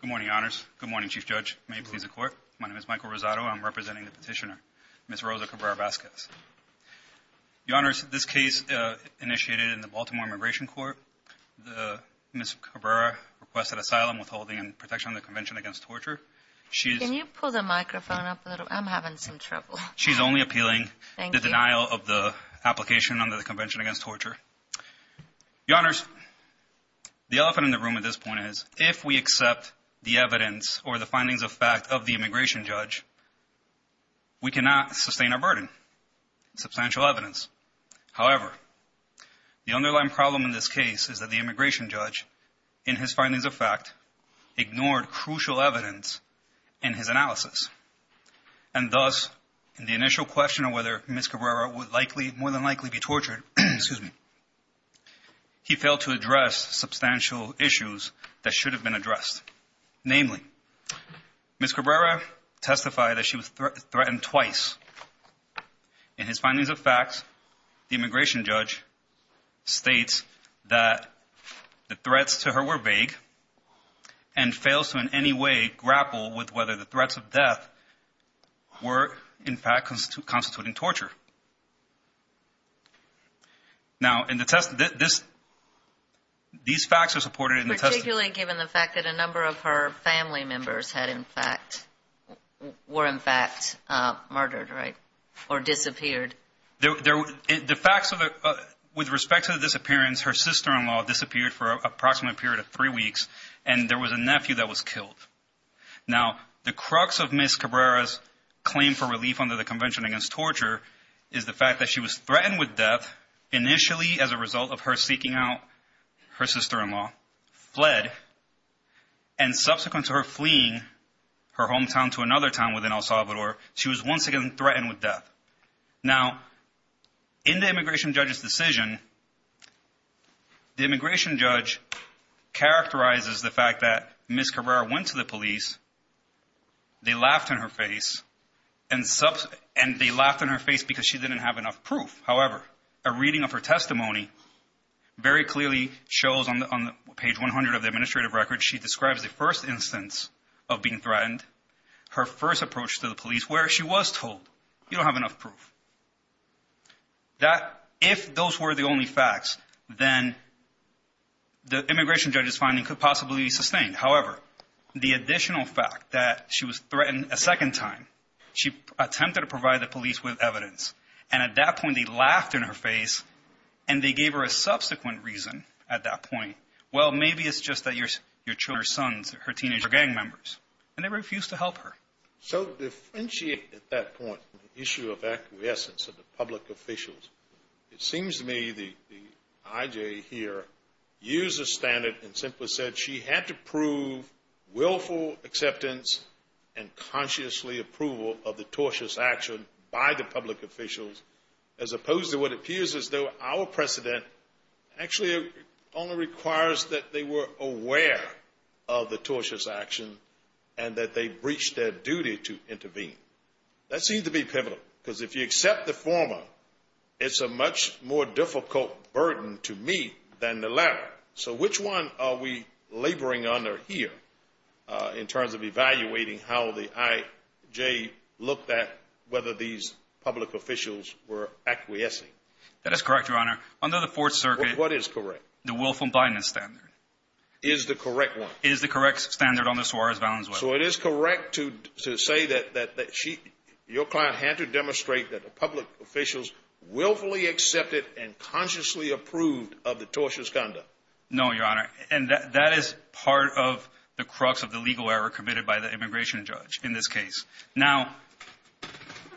Good morning, Your Honors. Good morning, Chief Judge. May it please the Court. My name is Michael Rosado. I'm representing the petitioner, Ms. Rosa Cabrera Vasquez. Your Honors, this case initiated in the Baltimore Immigration Court. Ms. Cabrera requested asylum, withholding, and protection under the Convention Against Torture. Can you pull the microphone up a little? I'm having some trouble. She's only appealing the denial of the application under the Convention Against Torture. Your Honors, the elephant in the room at this point is, if we accept the evidence or the findings of fact of the immigration judge, we cannot sustain our burden. Substantial evidence. However, the underlying problem in this case is that the immigration judge, in his findings of fact, ignored crucial evidence in his analysis. And thus, in the initial question of whether Ms. Cabrera would more than likely be tortured, he failed to address substantial issues that should have been addressed. Namely, Ms. Cabrera testified that she was threatened twice. In his findings of fact, the immigration judge states that the threats to her were vague and fails to in any way grapple with whether the threats of death were, in fact, constituting torture. Now, in the test, this, these facts are supported in the testimony. Particularly given the fact that a number of her family members had, in fact, were, in fact, murdered, right? Or disappeared. The facts of the, with respect to the disappearance, her sister-in-law disappeared for approximately a period of time. The crux of Ms. Cabrera's claim for relief under the Convention Against Torture is the fact that she was threatened with death initially as a result of her seeking out her sister-in-law, fled, and subsequent to her fleeing her hometown to another town within El Salvador, she was once again threatened with death. Now, in the immigration judge's the police, they laughed in her face, and they laughed in her face because she didn't have enough proof. However, a reading of her testimony very clearly shows on page 100 of the administrative record, she describes the first instance of being threatened, her first approach to the police, where she was told, you don't have enough proof. That, if those were the only facts, then the immigration judge's finding could possibly sustain. However, the additional fact that she was threatened a second time, she attempted to provide the police with evidence, and at that point, they laughed in her face, and they gave her a subsequent reason at that point. Well, maybe it's just that you're, your children, her sons, her teenage gang members, and they refused to help her. So differentiate at that point the issue of acquiescence of the public officials. It seems to me the I.J. here used a standard and simply said she had to prove willful acceptance and consciously approval of the tortious action by the public officials, as opposed to what appears as though our precedent actually only requires that they were aware of the tortious action and that they breached their duty to intervene. That seemed to be pivotal, because if you accept the former, it's a much more difficult burden to me than the latter. So which one are we laboring under here, in terms of evaluating how the I.J. looked at whether these public officials were acquiescing? That is correct, Your Honor. Under the Fourth Circuit... What is correct? The willful blindness standard. Is the correct one? Is the correct standard under Suarez-Valenswell. So it is correct to say that your client had to demonstrate that the public officials willfully accepted and consciously approved of the tortious conduct? No, Your Honor. And that is part of the crux of the legal error committed by the immigration judge in this case. Now,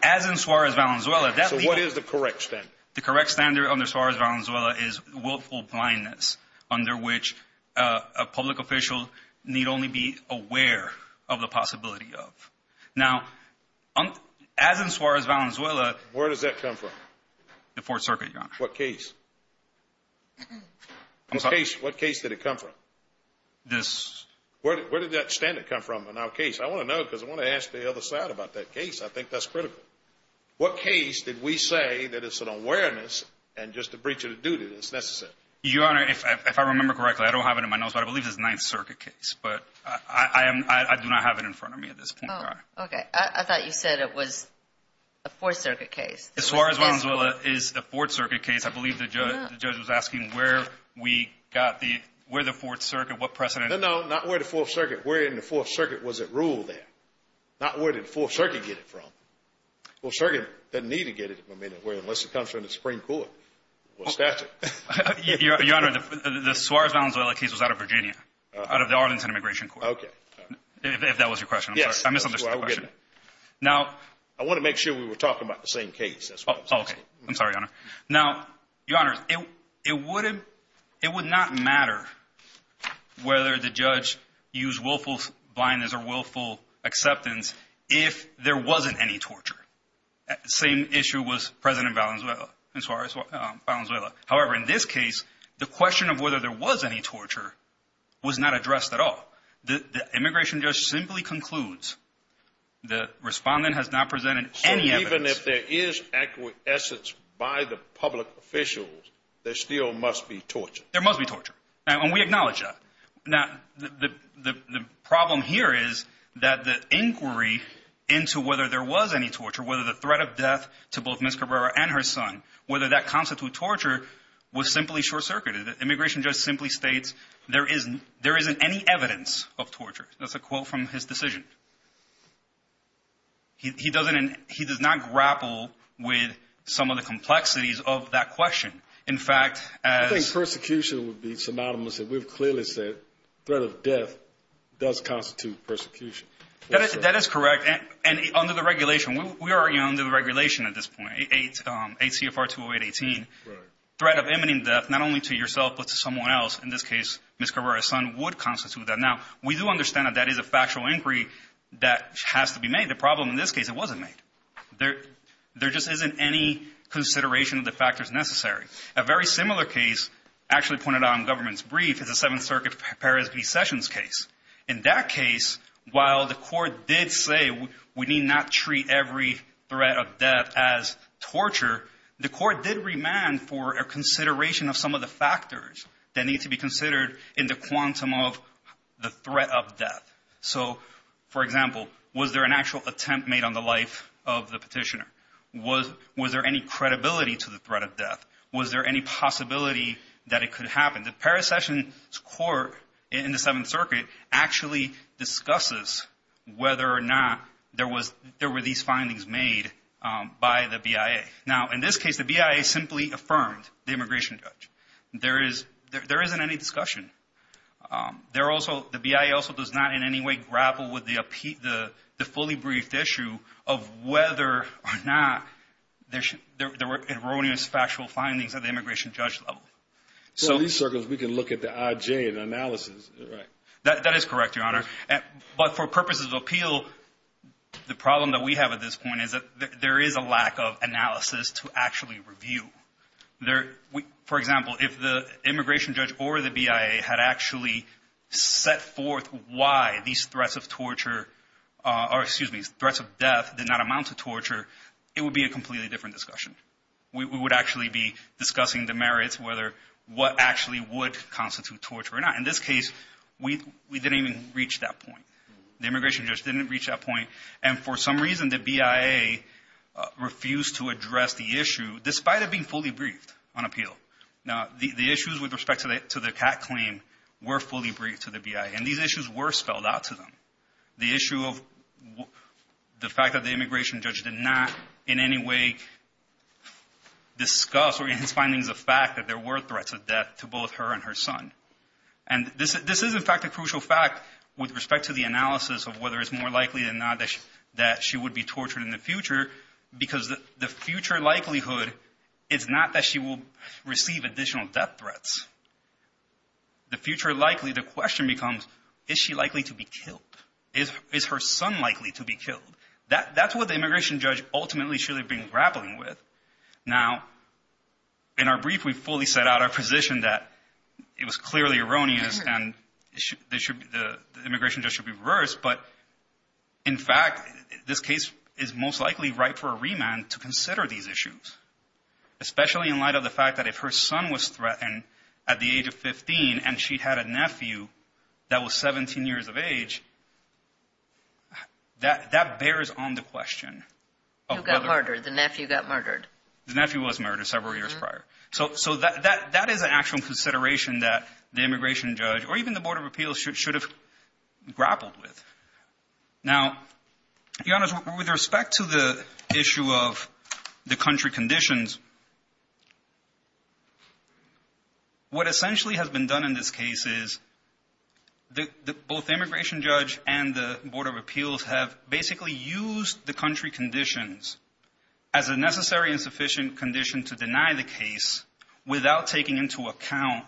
as in Suarez-Valenswell... So what is the correct standard? The correct standard under Suarez-Valenswell is willful blindness, under which a public official need only be aware of the possibility of. Now, as in Suarez-Valenswell... Where does that come from? The Fourth Circuit, Your Honor. What case? I'm sorry? What case did it come from? This... Where did that standard come from in our case? I want to know, because I want to ask the other side about that case. I think that's critical. What case did we say that it's an awareness and just a breach of duty that's necessary? Your Honor, if I remember correctly, I don't have it in my notes, but I believe it's a Ninth Circuit case. But I do not have it in front of me at this point. Oh, okay. I thought you said it was a Fourth Circuit case. Suarez-Valenswell is a Fourth Circuit case. I believe the judge was asking where we got the... Where the Fourth Circuit, what precedent... No, no. Not where the Fourth Circuit... Where in the Fourth Circuit was it ruled in? Not where did the Fourth Circuit get it from? Well, the Circuit didn't need to get it from anywhere, unless it comes from the Supreme Court or statute. Your Honor, the Suarez-Valenswell case was out of Virginia, out of the Arlington Immigration Court. If that was your question, I'm sorry. I misunderstood the question. I want to make sure we were talking about the same case. Oh, okay. I'm sorry, Your Honor. Now, Your Honor, it would not matter whether the judge used willful blindness or willful acceptance if there wasn't any torture. Same issue was with President Valenswell... Suarez-Valenswell. However, in this case, the question of whether there was any torture was not addressed at all. The immigration judge simply concludes the respondent has not presented any evidence... So even if there is acquiescence by the public officials, there still must be torture? There must be torture. And we acknowledge that. Now, the problem here is that the inquiry into whether there was any torture, whether the threat of death to both Ms. Cabrera and her son, whether that constitutes torture, was simply short-circuited. The immigration judge simply states there isn't any evidence of torture. That's a quote from his decision. He does not grapple with some of the complexities of that question. In fact, as... I think persecution would be synonymous. And we've clearly said threat of death does constitute persecution. That is correct. And under the regulation, we are under the regulation at this point, 8 CFR 208-18, threat of imminent death not only to yourself but to someone else, in this case, Ms. Cabrera's son, would constitute that. Now, we do understand that that is a factual inquiry that has to be made. The problem in this case, it wasn't made. There just isn't any consideration of the factors necessary. A very similar case actually pointed out in government's brief is the Seventh Circuit Perez v. Sessions case. In that case, while the court did say we need not treat every threat of death as torture, the court did remand for a consideration of some of the factors that need to be considered in the quantum of the threat of death. So, for example, was there an actual attempt made on the life of the petitioner? Was there any credibility to the threat of death? Was there any possibility that it could happen? The Perez-Sessions court in the Seventh Circuit actually discusses whether or not there were these findings made by the BIA. Now, in this case, the BIA simply affirmed the immigration judge. There isn't any discussion. The BIA also does not in any way grapple with the fully briefed issue of whether or not there were erroneous factual findings at the immigration judge level. So in these circles, we can look at the IJ and analysis, right? That is correct, Your Honor. But for purposes of appeal, the problem that we have at this point is that there is a lack of analysis to actually review. For example, if the immigration judge said that threats of death did not amount to torture, it would be a completely different discussion. We would actually be discussing the merits, whether what actually would constitute torture or not. In this case, we didn't even reach that point. The immigration judge didn't reach that point. And for some reason, the BIA refused to address the issue, despite it being fully briefed on appeal. Now, the issues with respect to the CAC claim were fully briefed to the BIA. And these issues were spelled out to them. The issue of the fact that the immigration judge did not in any way discuss or even find things of fact that there were threats of death to both her and her son. And this is, in fact, a crucial fact with respect to the analysis of whether it's more likely than not that she would be tortured in the future, because the future likelihood is not that she will receive additional death threats. The future likely, the question becomes, is she likely to be killed? Is her son likely to be killed? That's what the immigration judge ultimately should have been grappling with. Now, in our brief, we fully set out our position that it was clearly erroneous and the immigration judge should be reversed. But, in fact, this case is most likely ripe for a remand to consider these issues, especially in light of the fact that if her son was 17 years of age, that bears on the question. Who got murdered? The nephew got murdered. The nephew was murdered several years prior. So that is an actual consideration that the immigration judge or even the Board of Appeals should have grappled with. Now, Your Honor, with respect to the issue of the country conditions, what essentially has been done in this case is both the immigration judge and the Board of Appeals have basically used the country conditions as a necessary and sufficient condition to deny the case without taking into account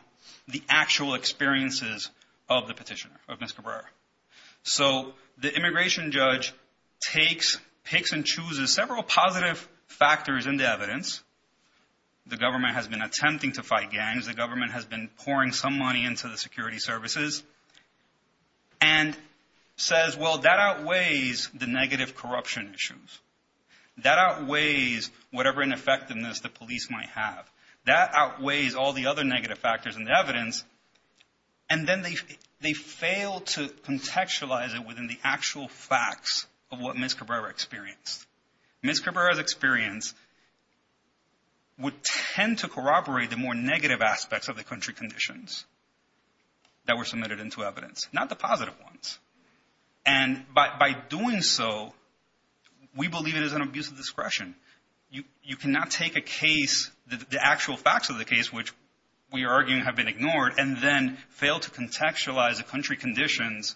the actual experiences of the petitioner, of Ms. Cabrera. So the immigration judge picks and chooses several positive factors in the evidence. The government has been attempting to fight gangs. The government has been pouring some money into the security services and says, well, that outweighs the negative corruption issues. That outweighs whatever ineffectiveness the police might have. That outweighs all the other negative factors in the evidence, and then they fail to contextualize it within the actual facts of what Ms. Cabrera experienced. Ms. Cabrera's experience would tend to corroborate the more negative aspects of the country conditions that were submitted into evidence, not the positive ones. And by doing so, we believe it is an abuse of discretion. You cannot take a case, the actual facts of the case, which we are arguing have been ignored, and then fail to contextualize the country conditions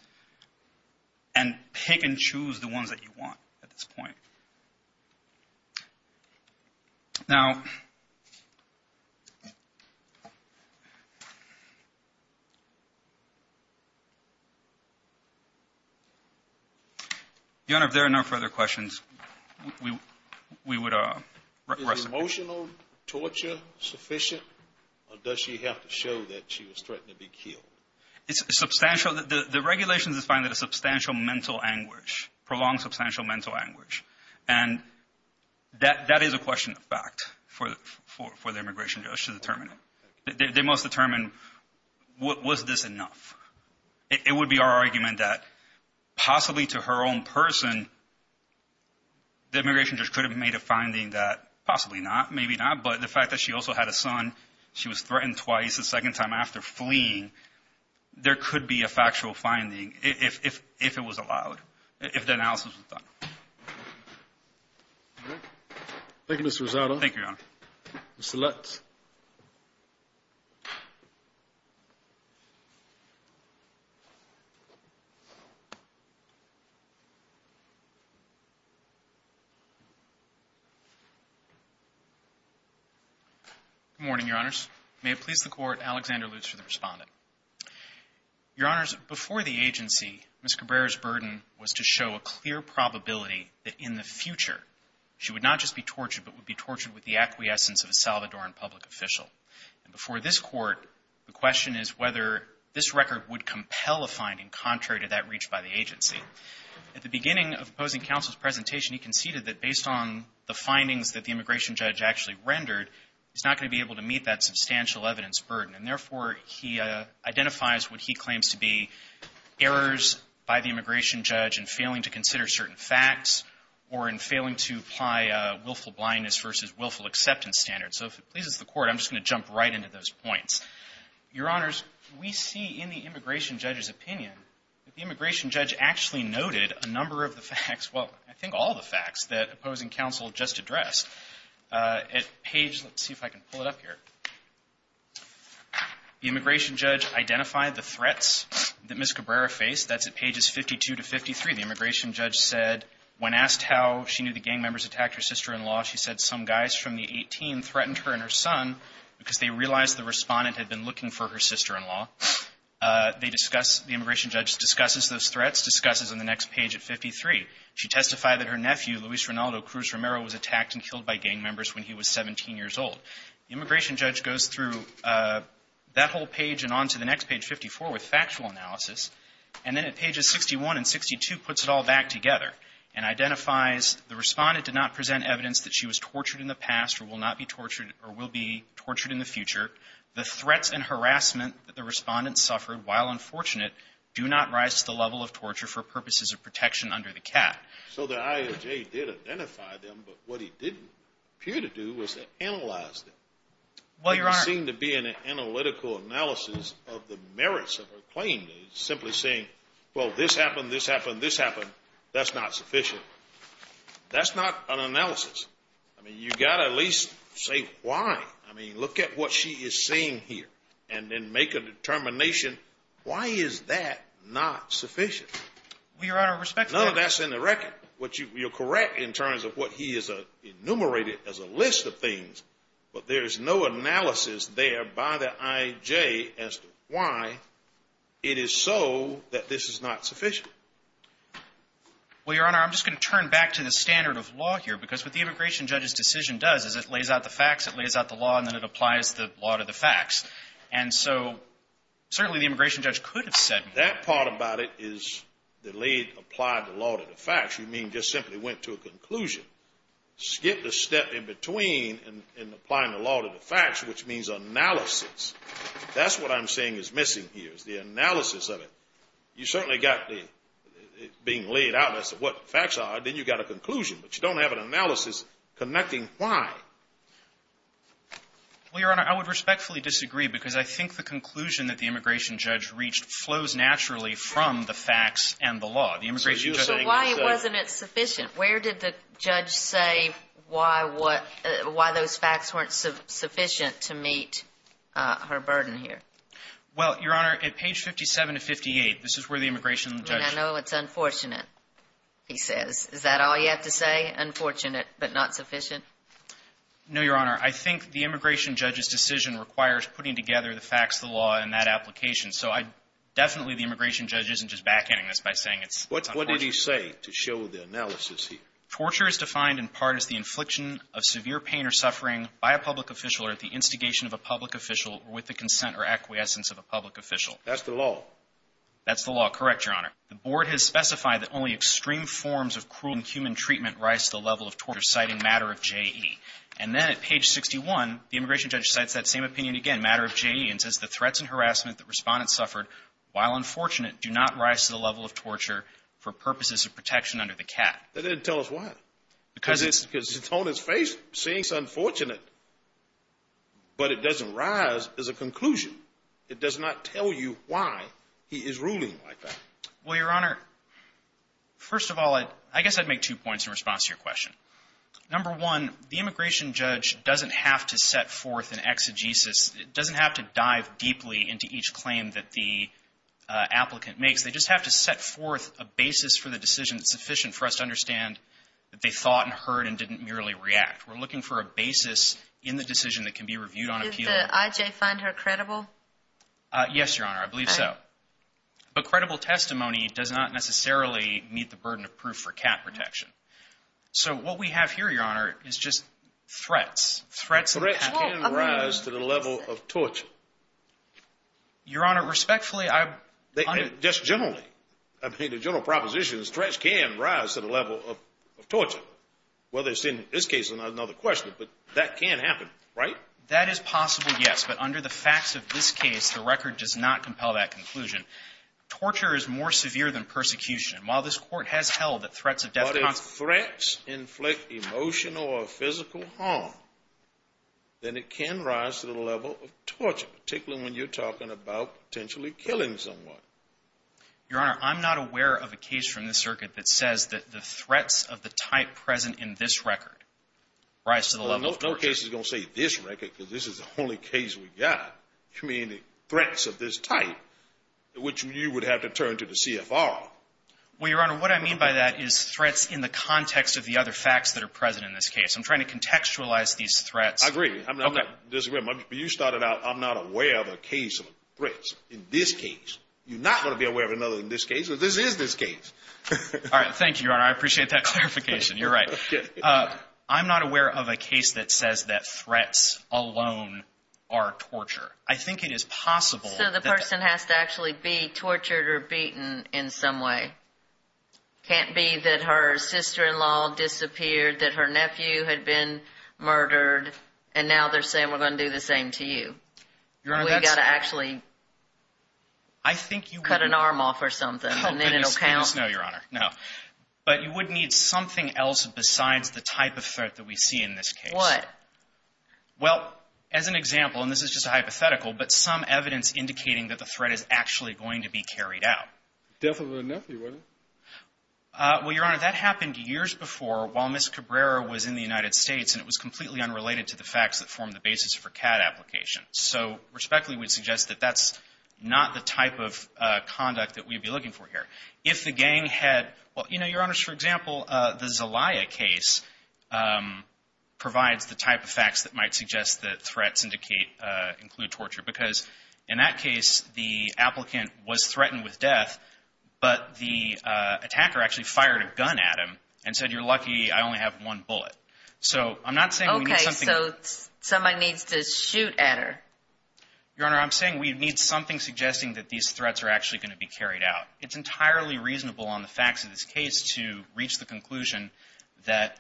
and pick and choose the ones that you want at this point. Now, Your Honor, if there are no further questions, we would rest. Is emotional torture sufficient, or does she have to show that she was threatened to be killed? It's substantial. The regulations define it as substantial mental anguish, prolonged substantial mental anguish. And that is a question of fact for the immigration judge to determine it. They must determine, was this enough? It would be our argument that possibly to her own person, the immigration judge could have made a finding that possibly not, maybe not, but the fact that she also had a son, she was threatened twice, the second time after fleeing, there could be a factual finding if it was allowed, if the analysis was done. Thank you, Mr. Rosado. Thank you, Your Honor. Mr. Lutz. Good morning, Your Honors. May it please the Court, Alexander Lutz for the Respondent. Your Honors, before the agency, Ms. Cabrera's burden was to show a clear probability that in the future she would not just be tortured, but would be tortured with the acquiescence of a Salvadoran public official. And before this Court, the question is whether this record would compel a finding contrary to that reached by the agency. At the beginning of opposing counsel's presentation, he conceded that based on the findings that the immigration judge actually rendered, he's not going to be able to meet that substantial evidence burden. And therefore, he identifies what he claims to be errors by the immigration judge in failing to consider certain facts or in failing to apply willful blindness versus willful acceptance standards. So if it pleases the Court, I'm just going to jump right into those points. Your Honors, we see in the immigration judge's opinion that the immigration judge actually noted a number of the facts, well, I think all the facts that opposing counsel just addressed. At page — let's see if I can pull it up here. The immigration judge identified the threats that Ms. Cabrera faced. That's at pages 52 to 53. The immigration judge goes through that whole page and on to the next page, 54, with factual analysis. And then at pages 61 and 62 puts it all back together and identifies the Respondent page at 53. So the I.A.J. did identify them, but what he didn't appear to do was to analyze them. Well, Your Honors — There doesn't seem to be an analytical analysis of the merits of her claim, simply saying, well, this happened, this happened, this happened. That's not sufficient. That's not an analysis. That's not an analysis. That's not an analysis. I mean, you've got to at least say why. I mean, look at what she is saying here. And then make a determination, why is that not sufficient? Well, Your Honor, respectfully — None of that's in the record. You're correct in terms of what he has enumerated as a list of things. But there is no analysis there by the I.A.J. as to why it is so that this is not sufficient. Well, Your Honor, I'm just going to turn back to the standard of law here, because what the immigration judge's decision does is it lays out the facts, it lays out the law, and then it applies the law to the facts. And so certainly the immigration judge could have said — That part about it is the laid, applied law to the facts. You mean just simply went to a conclusion. Skipped a step in between in applying the law to the facts, which means analysis. That's what I'm saying is missing here, is the analysis of it. You certainly got it being laid out as to what the facts are, then you've got a conclusion. But you don't have an analysis connecting why. Well, Your Honor, I would respectfully disagree, because I think the conclusion that the immigration judge reached flows naturally from the facts and the law. The immigration judge — So why wasn't it sufficient? Where did the judge say why those facts weren't sufficient to meet her burden here? Well, Your Honor, at page 57 to 58, this is where the immigration judge — I mean, I know it's unfortunate, he says. Is that all you have to say, unfortunate but not sufficient? No, Your Honor. I think the immigration judge's decision requires putting together the facts, the law, and that application. So I — definitely the immigration judge isn't just backhanding this by saying it's unfortunate. What did he say to show the analysis here? Torture is defined in part as the infliction of severe pain or suffering by a public official or at the instigation of a public official or with the consent or acquiescence of a public official. That's the law. That's the law. Correct, Your Honor. The board has specified that only extreme forms of cruel and inhuman treatment rise to the level of torture, citing matter of J.E. And then at page 61, the immigration judge cites that same opinion again, matter of J.E., and says the threats and harassment that respondents suffered, while unfortunate, do not rise to the level of torture for purposes of protection under the cap. That doesn't tell us why. Because it's — Because it's on his face, saying it's unfortunate. But it doesn't rise as a conclusion. It does not tell you why he is ruling like that. Well, Your Honor, first of all, I guess I'd make two points in response to your question. Number one, the immigration judge doesn't have to set forth an exegesis. It doesn't have to dive deeply into each claim that the applicant makes. They just have to set forth a basis for the decision that's sufficient for us to understand that they thought and heard and didn't merely react. We're looking for a basis in the decision that can be reviewed on appeal. Does I.J. find her credible? Yes, Your Honor, I believe so. But credible testimony does not necessarily meet the burden of proof for cap protection. So what we have here, Your Honor, is just threats. Threats can rise to the level of torture. Your Honor, respectfully, I — Just generally. I mean, the general proposition is threats can rise to the level of torture, whether it's in this case or another question. But that can happen, right? That is possible, yes. But under the facts of this case, the record does not compel that conclusion. Torture is more severe than persecution. And while this Court has held that threats of death — But if threats inflict emotional or physical harm, then it can rise to the level of torture, particularly when you're talking about potentially killing someone. Your Honor, I'm not aware of a case from this circuit that says that the threats of the type present in this record rise to the level of torture. No court case is going to say this record, because this is the only case we've got, meaning threats of this type, which you would have to turn to the CFR. Well, Your Honor, what I mean by that is threats in the context of the other facts that are present in this case. I'm trying to contextualize these threats. I agree. I'm not — Okay. But you started out, I'm not aware of a case of threats in this case. You're not going to be aware of another in this case, or this is this case. All right. Thank you, Your Honor. I appreciate that clarification. You're right. I'm not aware of a case that says that threats alone are torture. I think it is possible that — So the person has to actually be tortured or beaten in some way. It can't be that her sister-in-law disappeared, that her nephew had been murdered, and now they're saying we're going to do the same to you. Your Honor, that's — We've got to actually cut an arm off or something, and then it'll count. Oh, goodness, no, Your Honor, no. But you would need something else besides the type of threat that we see in this case. What? Well, as an example, and this is just a hypothetical, but some evidence indicating that the threat is actually going to be carried out. Definitely her nephew, wasn't it? Well, Your Honor, that happened years before while Ms. Cabrera was in the United States, and it was completely unrelated to the facts that formed the basis for CAD application. So respectfully, we'd suggest that that's not the type of conduct that we'd be looking for here. If the gang had — well, you know, Your Honors, for example, the Zelaya case provides the type of facts that might suggest that threats include torture because in that case, the applicant was threatened with death, but the attacker actually fired a gun at him and said, you're lucky I only have one bullet. So I'm not saying we need something — Okay, so someone needs to shoot at her. Your Honor, I'm saying we need something suggesting that these threats are actually going to be carried out. It's entirely reasonable on the facts of this case to reach the conclusion that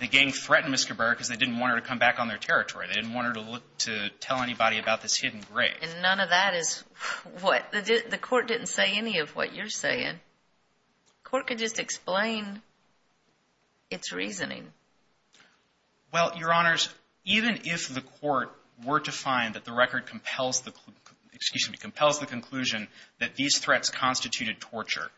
the gang threatened Ms. Cabrera because they didn't want her to come back on their territory. They didn't want her to look to tell anybody about this hidden grave. And none of that is what — the court didn't say any of what you're saying. The court could just explain its reasoning. Well, Your Honors, even if the court were to find that the record compels the — that these threats constituted torture,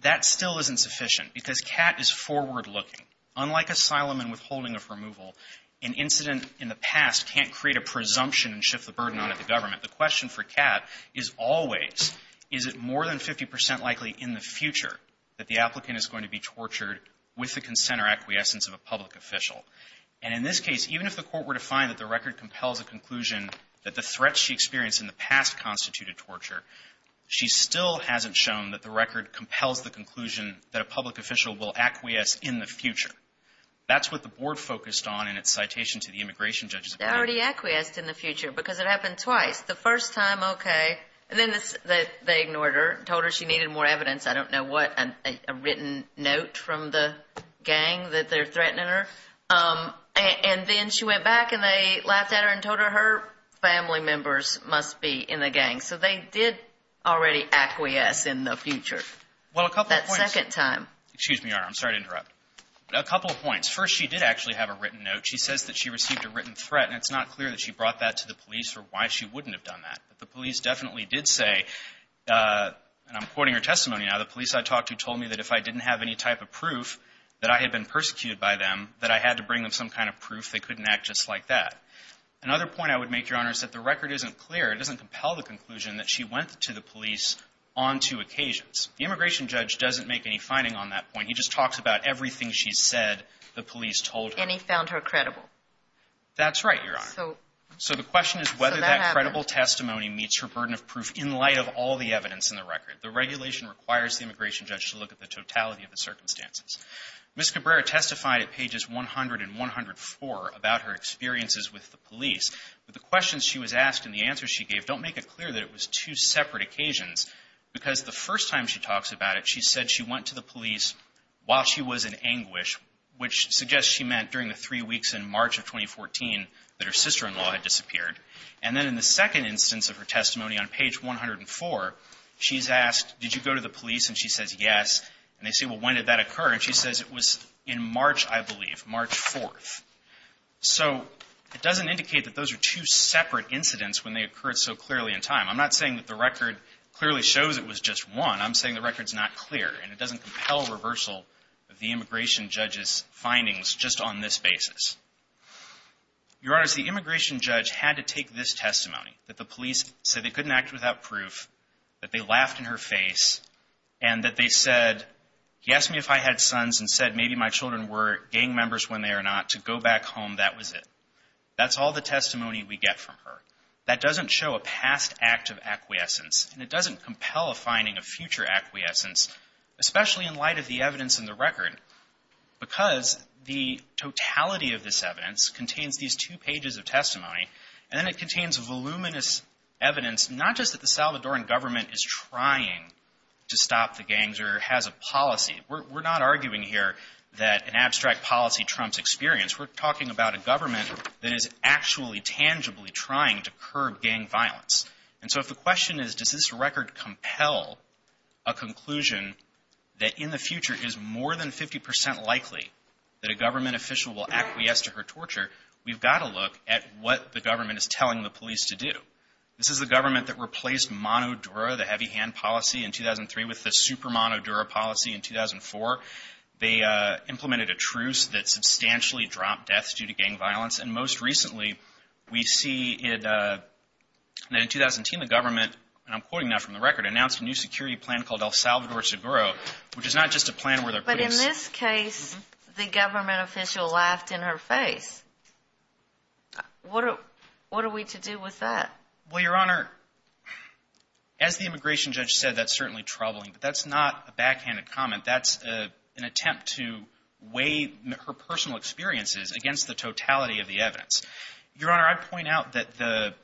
that still isn't sufficient because Catt is forward-looking. Unlike asylum and withholding of removal, an incident in the past can't create a presumption and shift the burden onto the government. The question for Catt is always, is it more than 50 percent likely in the future that the applicant is going to be tortured with the consent or acquiescence of a public official? And in this case, even if the court were to find that the record compels a conclusion that the threats she experienced in the past constituted torture, she still hasn't shown that the record compels the conclusion that a public official will acquiesce in the future. That's what the board focused on in its citation to the immigration judges. They already acquiesced in the future because it happened twice. The first time, okay, and then they ignored her, told her she needed more evidence, I don't know what, a written note from the gang that they're threatening her. And then she went back and they laughed at her and told her, her family members must be in the gang. So they did already acquiesce in the future. Well, a couple of points. That second time. Excuse me, Your Honor, I'm sorry to interrupt. A couple of points. First, she did actually have a written note. She says that she received a written threat, and it's not clear that she brought that to the police or why she wouldn't have done that. But the police definitely did say, and I'm quoting her testimony now, the police I talked to told me that if I didn't have any type of proof that I had been persecuted by them, that I had to bring them some kind of proof they couldn't act just like that. Another point I would make, Your Honor, is that the record isn't clear. It doesn't compel the conclusion that she went to the police on two occasions. The immigration judge doesn't make any finding on that point. He just talks about everything she said the police told her. And he found her credible. That's right, Your Honor. So that happened. So the question is whether that credible testimony meets her burden of proof in light of all the evidence in the record. The regulation requires the immigration judge to look at the totality of the circumstances. Ms. Cabrera testified at pages 100 and 104 about her experiences with the police. But the questions she was asked and the answers she gave don't make it clear that it was two separate occasions because the first time she talks about it, she said she went to the police while she was in anguish, which suggests she meant during the three weeks in March of 2014 that her sister-in-law had disappeared. And then in the second instance of her testimony on page 104, she's asked, did you go to the police? And she says yes. And they say, well, when did that occur? And she says it was in March, I believe, March 4th. So it doesn't indicate that those are two separate incidents when they occurred so clearly in time. I'm not saying that the record clearly shows it was just one. I'm saying the record's not clear. And it doesn't compel reversal of the immigration judge's findings just on this basis. Your Honor, the immigration judge had to take this testimony, that the police said they couldn't act without proof, that they laughed in her face, and that they said, he asked me if I had sons and said maybe my children were gang members when they are not, to go back home, that was it. That's all the testimony we get from her. That doesn't show a past act of acquiescence. And it doesn't compel a finding of future acquiescence, especially in light of the evidence in the record, because the totality of this evidence contains these two pages of testimony. And then it contains voluminous evidence, not just that the Salvadoran government is trying to stop the gangs or has a policy. We're not arguing here that an abstract policy trumps experience. We're talking about a government that is actually tangibly trying to curb gang violence. And so if the question is, does this record compel a conclusion that in the future is more than 50 percent likely that a government official will acquiesce to her torture, we've got to look at what the government is telling the police to do. This is the government that replaced MONODURA, the heavy hand policy, in 2003 with the super MONODURA policy in 2004. They implemented a truce that substantially dropped deaths due to gang violence. And most recently, we see that in 2010, the government, and I'm quoting now from the record, announced a new security plan called El Salvador Seguro, which is not just a plan where the police. In this case, the government official laughed in her face. What are we to do with that? Well, Your Honor, as the immigration judge said, that's certainly troubling. But that's not a backhanded comment. That's an attempt to weigh her personal experiences against the totality of the evidence. Your Honor, I'd point out that the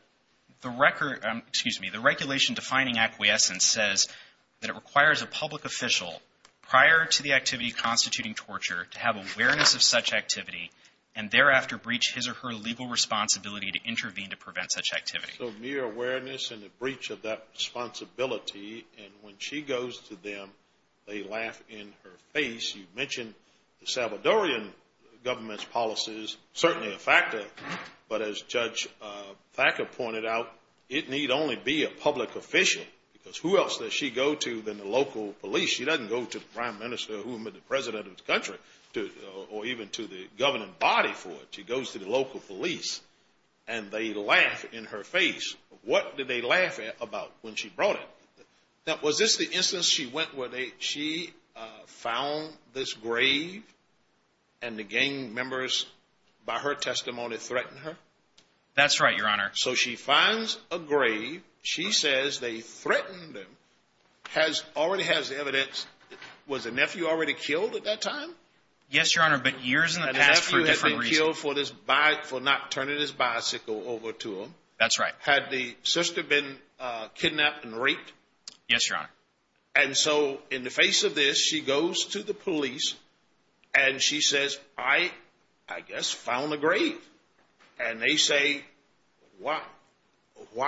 record — excuse me, the regulation defining acquiescence says that it requires a public official, prior to the activity constituting torture, to have awareness of such activity and thereafter breach his or her legal responsibility to intervene to prevent such activity. So mere awareness and a breach of that responsibility. And when she goes to them, they laugh in her face. You mentioned the Salvadorian government's policies, certainly a factor. But as Judge Thacker pointed out, it need only be a public official because who else does she go to than the local police? She doesn't go to the prime minister or the president of the country or even to the governing body for it. She goes to the local police and they laugh in her face. What did they laugh about when she brought it? Now, was this the instance she went where she found this grave and the gang members, by her testimony, threatened her? That's right, Your Honor. So she finds a grave. She says they threatened them. Already has the evidence. Was the nephew already killed at that time? Yes, Your Honor, but years in the past for a different reason. The nephew had been killed for not turning his bicycle over to him. That's right. Had the sister been kidnapped and raped? Yes, Your Honor. And so in the face of this, she goes to the police and she says, I guess found a grave. And they say, why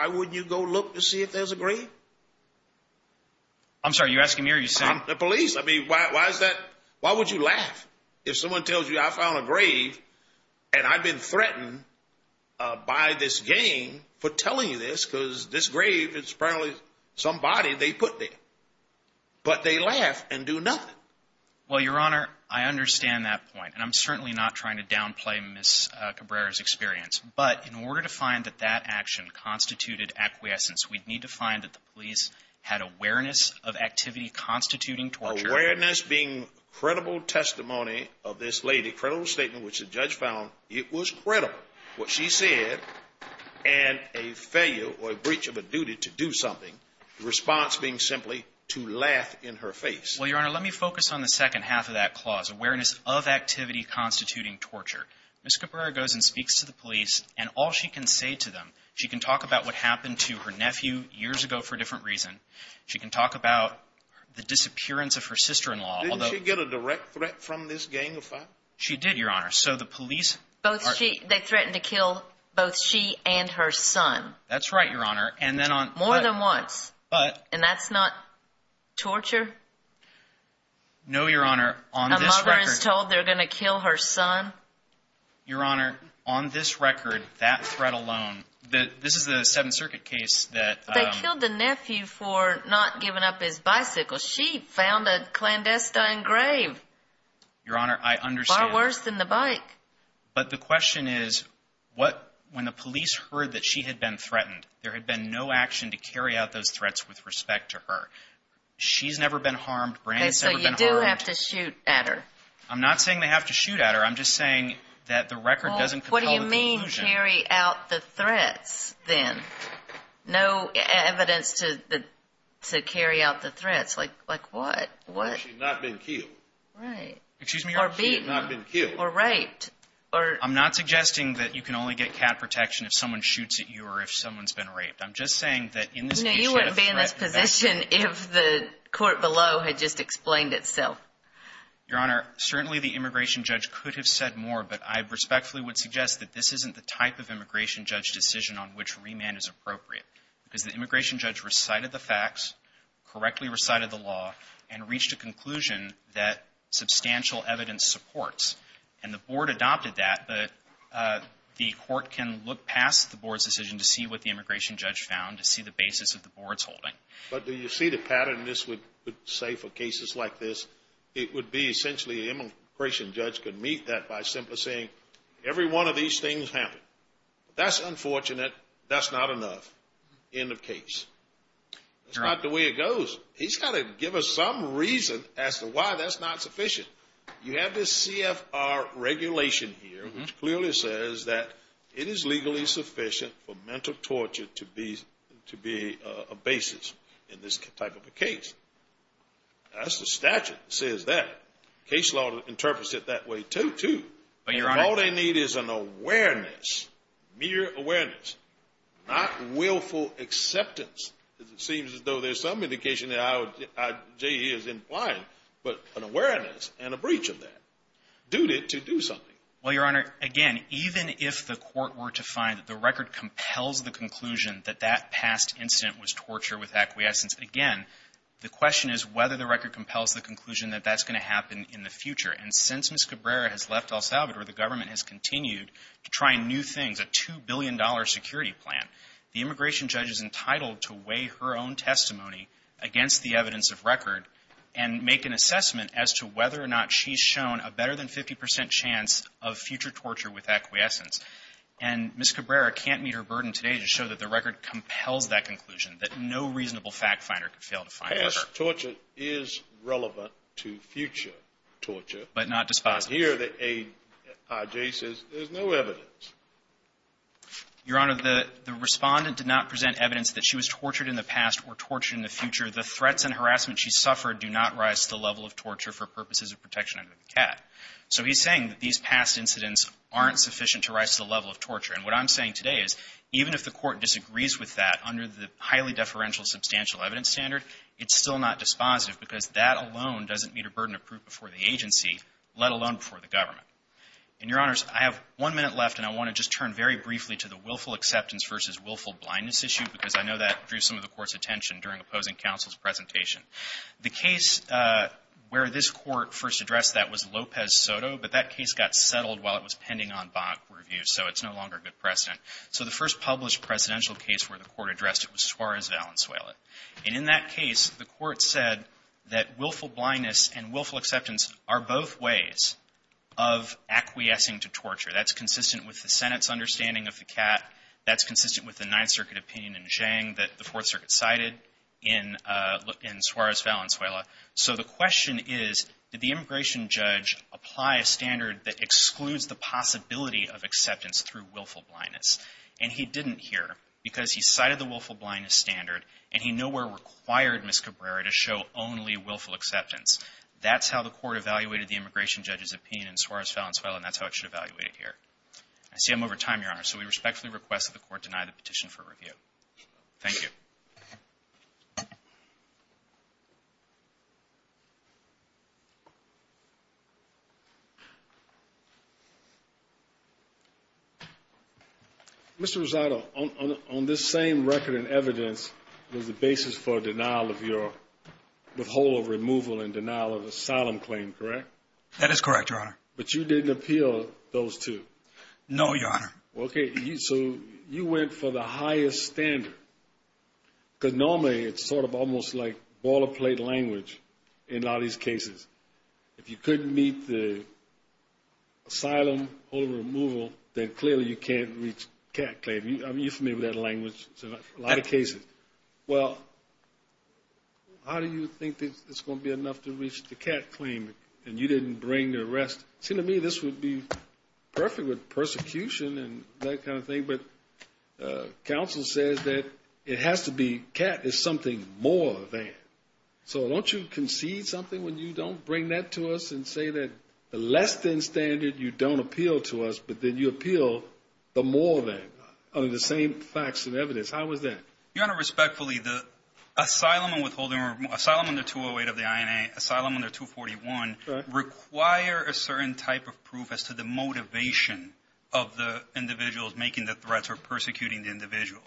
wouldn't you go look to see if there's a grave? I'm sorry, you're asking me or you saying? The police. I mean, why is that? Why would you laugh if someone tells you I found a grave and I've been threatened by this gang for telling you this because this grave is probably somebody they put there. But they laugh and do nothing. Well, Your Honor, I understand that point. And I'm certainly not trying to downplay Ms. Cabrera's experience. But in order to find that that action constituted acquiescence, we'd need to find that the police had awareness of activity constituting torture. Awareness being credible testimony of this lady, credible statement which the judge found it was credible, what she said and a failure or a breach of a duty to do something, the response being simply to laugh in her face. Well, Your Honor, let me focus on the second half of that clause, awareness of activity constituting torture. Ms. Cabrera goes and speaks to the police and all she can say to them, she can talk about what happened to her nephew years ago for a different reason. She can talk about the disappearance of her sister-in-law. Didn't she get a direct threat from this gang of five? She did, Your Honor. They threatened to kill both she and her son. That's right, Your Honor. More than once. And that's not torture? No, Your Honor. A mother is told they're going to kill her son? Your Honor, on this record, that threat alone, this is a Seventh Circuit case. They killed the nephew for not giving up his bicycle. She found a clandestine grave. Your Honor, I understand. It's worse than the bike. But the question is, when the police heard that she had been threatened, there had been no action to carry out those threats with respect to her. She's never been harmed. Brandon's never been harmed. Okay, so you do have to shoot at her. I'm not saying they have to shoot at her. I'm just saying that the record doesn't compel the conclusion. What do you mean, carry out the threats, then? No evidence to carry out the threats. Like what? She's not been killed. Right. Excuse me, Your Honor. She's not been killed. Or raped. I'm not suggesting that you can only get cat protection if someone shoots at you or if someone's been raped. I'm just saying that in this case, you have a threat. No, you wouldn't be in this position if the court below had just explained itself. Your Honor, certainly the immigration judge could have said more, but I respectfully would suggest that this isn't the type of immigration judge decision on which remand is appropriate. Because the immigration judge recited the facts, correctly recited the law, and supports. And the board adopted that, but the court can look past the board's decision to see what the immigration judge found to see the basis of the board's holding. But do you see the pattern this would say for cases like this? It would be essentially the immigration judge could meet that by simply saying, every one of these things happened. That's unfortunate. That's not enough. End of case. That's not the way it goes. He's got to give us some reason as to why that's not sufficient. You have this CFR regulation here, which clearly says that it is legally sufficient for mental torture to be a basis in this type of a case. That's the statute that says that. Case law interprets it that way, too. All they need is an awareness, mere awareness, not willful acceptance. It seems as though there's some indication that I.J. is implying, but an awareness and a breach of that. Duty to do something. Well, Your Honor, again, even if the court were to find that the record compels the conclusion that that past incident was torture with acquiescence, again, the question is whether the record compels the conclusion that that's going to happen in the future. And since Ms. Cabrera has left El Salvador, the government has continued to try new things, a $2 billion security plan. The immigration judge is entitled to weigh her own testimony against the evidence of record and make an assessment as to whether or not she's shown a better-than-50 percent chance of future torture with acquiescence. And Ms. Cabrera can't meet her burden today to show that the record compels that conclusion, that no reasonable fact-finder could fail to find that record. Past torture is relevant to future torture. But not dispositive. But here the I.J. says there's no evidence. Your Honor, the Respondent did not present evidence that she was tortured in the past or tortured in the future. The threats and harassment she suffered do not rise to the level of torture for purposes of protection under the CAT. So he's saying that these past incidents aren't sufficient to rise to the level of torture. And what I'm saying today is, even if the court disagrees with that under the highly deferential substantial evidence standard, it's still not dispositive because that alone doesn't meet a burden of proof before the agency, let alone before the government. And, Your Honors, I have one minute left, and I want to just turn very briefly to the willful acceptance versus willful blindness issue, because I know that drew some of the Court's attention during opposing counsel's presentation. The case where this Court first addressed that was Lopez-Soto, but that case got settled while it was pending on bond review, so it's no longer a good precedent. So the first published presidential case where the Court addressed it was Suarez-Valenzuela. And in that case, the Court said that willful blindness and willful acceptance are both ways of acquiescing to torture. That's consistent with the Senate's understanding of the CAT. That's consistent with the Ninth Circuit opinion in Zhang that the Fourth Circuit cited in Suarez-Valenzuela. So the question is, did the immigration judge apply a standard that excludes the possibility of acceptance through willful blindness? And he didn't here, because he cited the willful blindness standard, and he nowhere required Ms. Cabrera to show only willful acceptance. That's how the Court evaluated the immigration judge's opinion in Suarez-Valenzuela, and that's how it should evaluate it here. I see I'm over time, Your Honor, so we respectfully request that the Court deny the petition for review. Thank you. Mr. Rosado, on this same record and evidence, there's a basis for a denial of your withhold of removal and denial of asylum claim, correct? That is correct, Your Honor. But you didn't appeal those two? No, Your Honor. Okay, so you went for the highest standard, because normally it's sort of almost like boilerplate language in a lot of these cases. If you couldn't meet the asylum withhold of removal, then clearly you can't reach CAT claim. You're familiar with that language in a lot of cases. Well, how do you think it's going to be enough to reach the CAT claim, and you didn't bring the rest? It seemed to me this would be perfect with persecution and that kind of thing, but counsel says that it has to be, CAT is something more than. So don't you concede something when you don't bring that to us and say that the less than standard you don't appeal to us, but then you appeal the more than, under the same facts and evidence. How is that? Your Honor, respectfully, the asylum and withholding, or asylum under 208 of the INA, asylum under 241, require a certain type of proof as to the motivation of the individuals making the threats or persecuting the individual.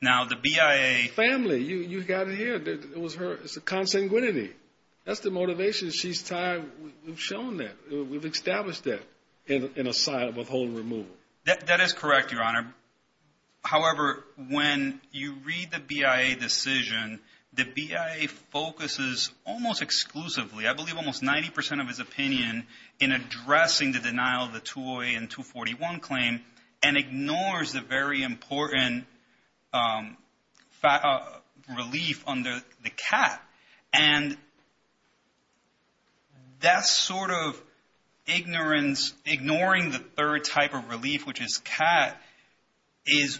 Now, the BIA... Family, you got it here. It was her, it's a consanguinity. That's the motivation. She's tied, we've shown that. We've established that in asylum withholding and removal. That is correct, Your Honor. However, when you read the BIA decision, the BIA focuses almost exclusively, I believe almost 90% of his opinion in addressing the denial of the 208 and 241 claim and ignores the very important relief under the CAT. And that sort of ignorance, ignoring the third type of relief, which is CAT, is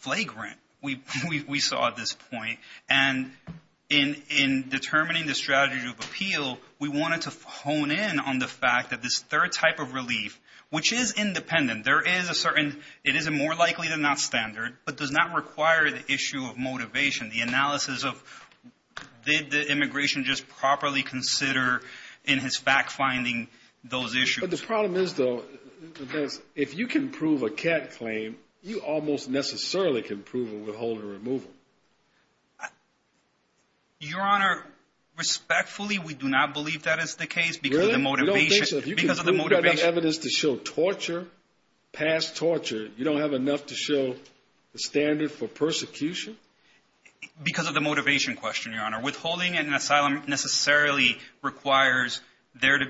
flagrant. We saw this point. And in determining the strategy of appeal, we wanted to hone in on the fact that this third type of relief, which is independent, it is more likely than not standard, but does not require the issue of motivation, the analysis of did the immigration just properly consider in his fact-finding those issues. But the problem is, though, is if you can prove a CAT claim, you almost necessarily can prove a withholding or removal. Your Honor, respectfully, we do not believe that is the case because of the motivation. Really? You don't think so? If you can prove that evidence to show torture, past torture, you don't have enough to show the standard for persecution? Because of the motivation question, Your Honor. Withholding in an asylum necessarily requires there to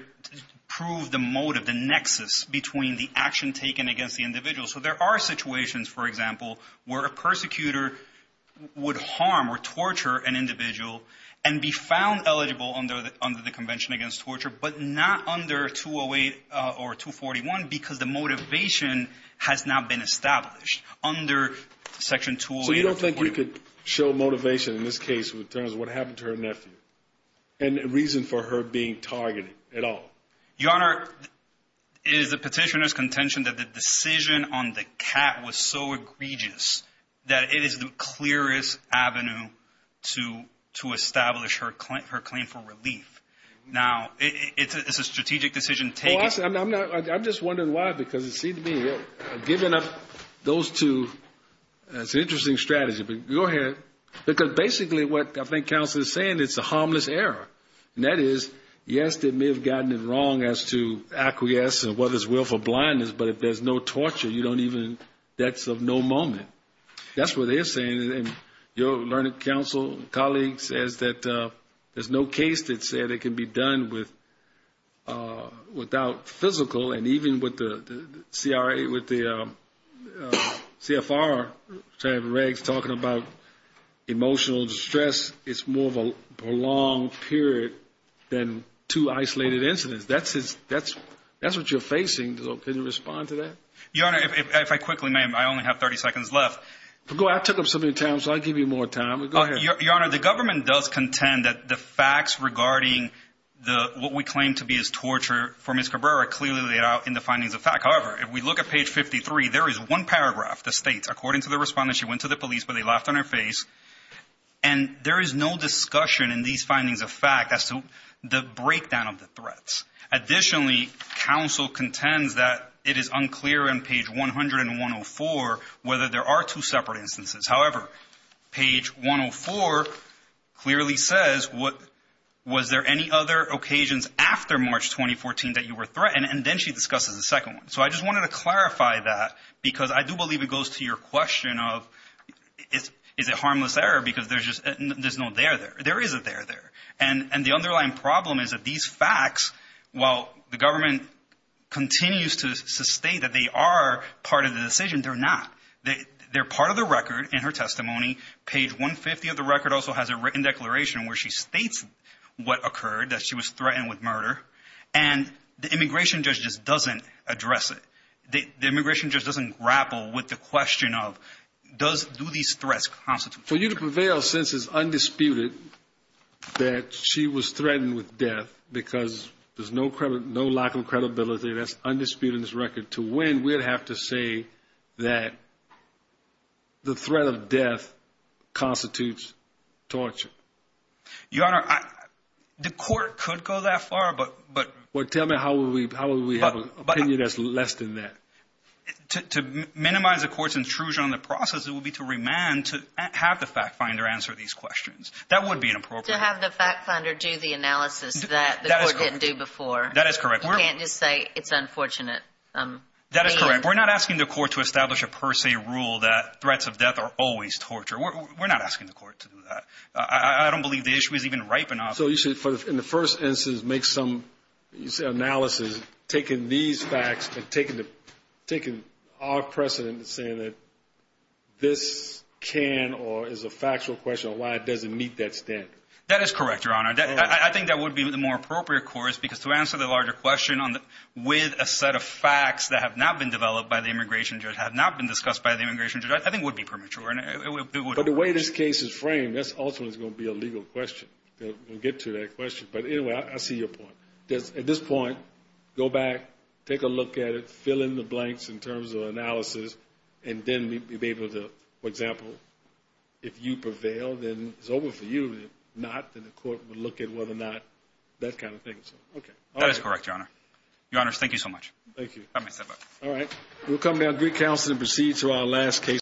prove the motive, the nexus between the action taken against the individual. So there are situations, for example, where a persecutor would harm or torture an individual and be found eligible under the Convention Against Torture, but not under 208 or 241 because the motivation has not been established under Section 208 of the Corporation. So you don't think we could show motivation in this case in terms of what happened to her nephew and reason for her being targeted at all? Your Honor, it is the Petitioner's contention that the decision on the CAT was so egregious that it is the clearest avenue to establish her claim for relief. Now, it's a strategic decision taken. I'm just wondering why, because it seems to me you're giving up those two. That's an interesting strategy, but go ahead. Because basically what I think counsel is saying is it's a harmless error. And that is, yes, they may have gotten it wrong as to acquiesce and what is willful blindness, but if there's no torture, you don't even, that's of no moment. That's what they're saying. And your learning counsel, colleague, says that there's no case that can be done without physical, and even with the CFR talking about emotional distress, it's more of a prolonged period than two isolated incidents. That's what you're facing. Can you respond to that? Your Honor, if I quickly may, I only have 30 seconds left. I took up so many times, so I'll give you more time. Go ahead. Your Honor, the government does contend that the facts regarding what we claim to be as torture for Ms. Cabrera are clearly laid out in the findings of fact. However, if we look at page 53, there is one paragraph that states, according to the respondent, she went to the police, but they laughed on her face. And there is no discussion in these findings of fact as to the breakdown of the threats. Additionally, counsel contends that it is unclear in page 100 and 104 whether there are two separate instances. However, page 104 clearly says, was there any other occasions after March 2014 that you were threatened? And then she discusses a second one. So I just wanted to clarify that because I do believe it goes to your question of is it harmless error because there's no there there. There is a there there. And the underlying problem is that these facts, while the government continues to state that they are part of the decision, they're not. They're part of the record in her testimony. Page 150 of the record also has a written declaration where she states what occurred, that she was threatened with murder. And the immigration judge just doesn't address it. The immigration judge doesn't grapple with the question of does do these threats constitute. For you to prevail since it's undisputed that she was threatened with death because there's no credit, no credibility that's undisputed in this record to win, we'd have to say that. The threat of death constitutes torture. Your Honor, the court could go that far. But but what tell me, how will we how will we have an opinion that's less than that? To minimize the court's intrusion on the process, it will be to remand to have the fact finder answer these questions. That would be inappropriate to have the fact finder do the analysis that didn't do before. That is correct. You can't just say it's unfortunate. That is correct. We're not asking the court to establish a per se rule that threats of death are always torture. We're not asking the court to do that. I don't believe the issue is even ripe enough. So you should, in the first instance, make some analysis. Taking these facts and taking our precedent and saying that this can or is a factual question of why it doesn't meet that standard. That is correct, Your Honor. I think that would be the more appropriate course because to answer the larger question with a set of facts that have not been developed by the immigration judge, have not been discussed by the immigration judge, I think would be premature. But the way this case is framed, that's ultimately going to be a legal question. We'll get to that question. But anyway, I see your point. At this point, go back, take a look at it, fill in the blanks in terms of analysis, and then be able to, for example, if you prevail, then it's over for you. If not, then the court will look at whether or not that kind of thing. That is correct, Your Honor. Your Honors, thank you so much. Thank you. Let me step up. All right. We'll come down to recounsel and proceed to our last case.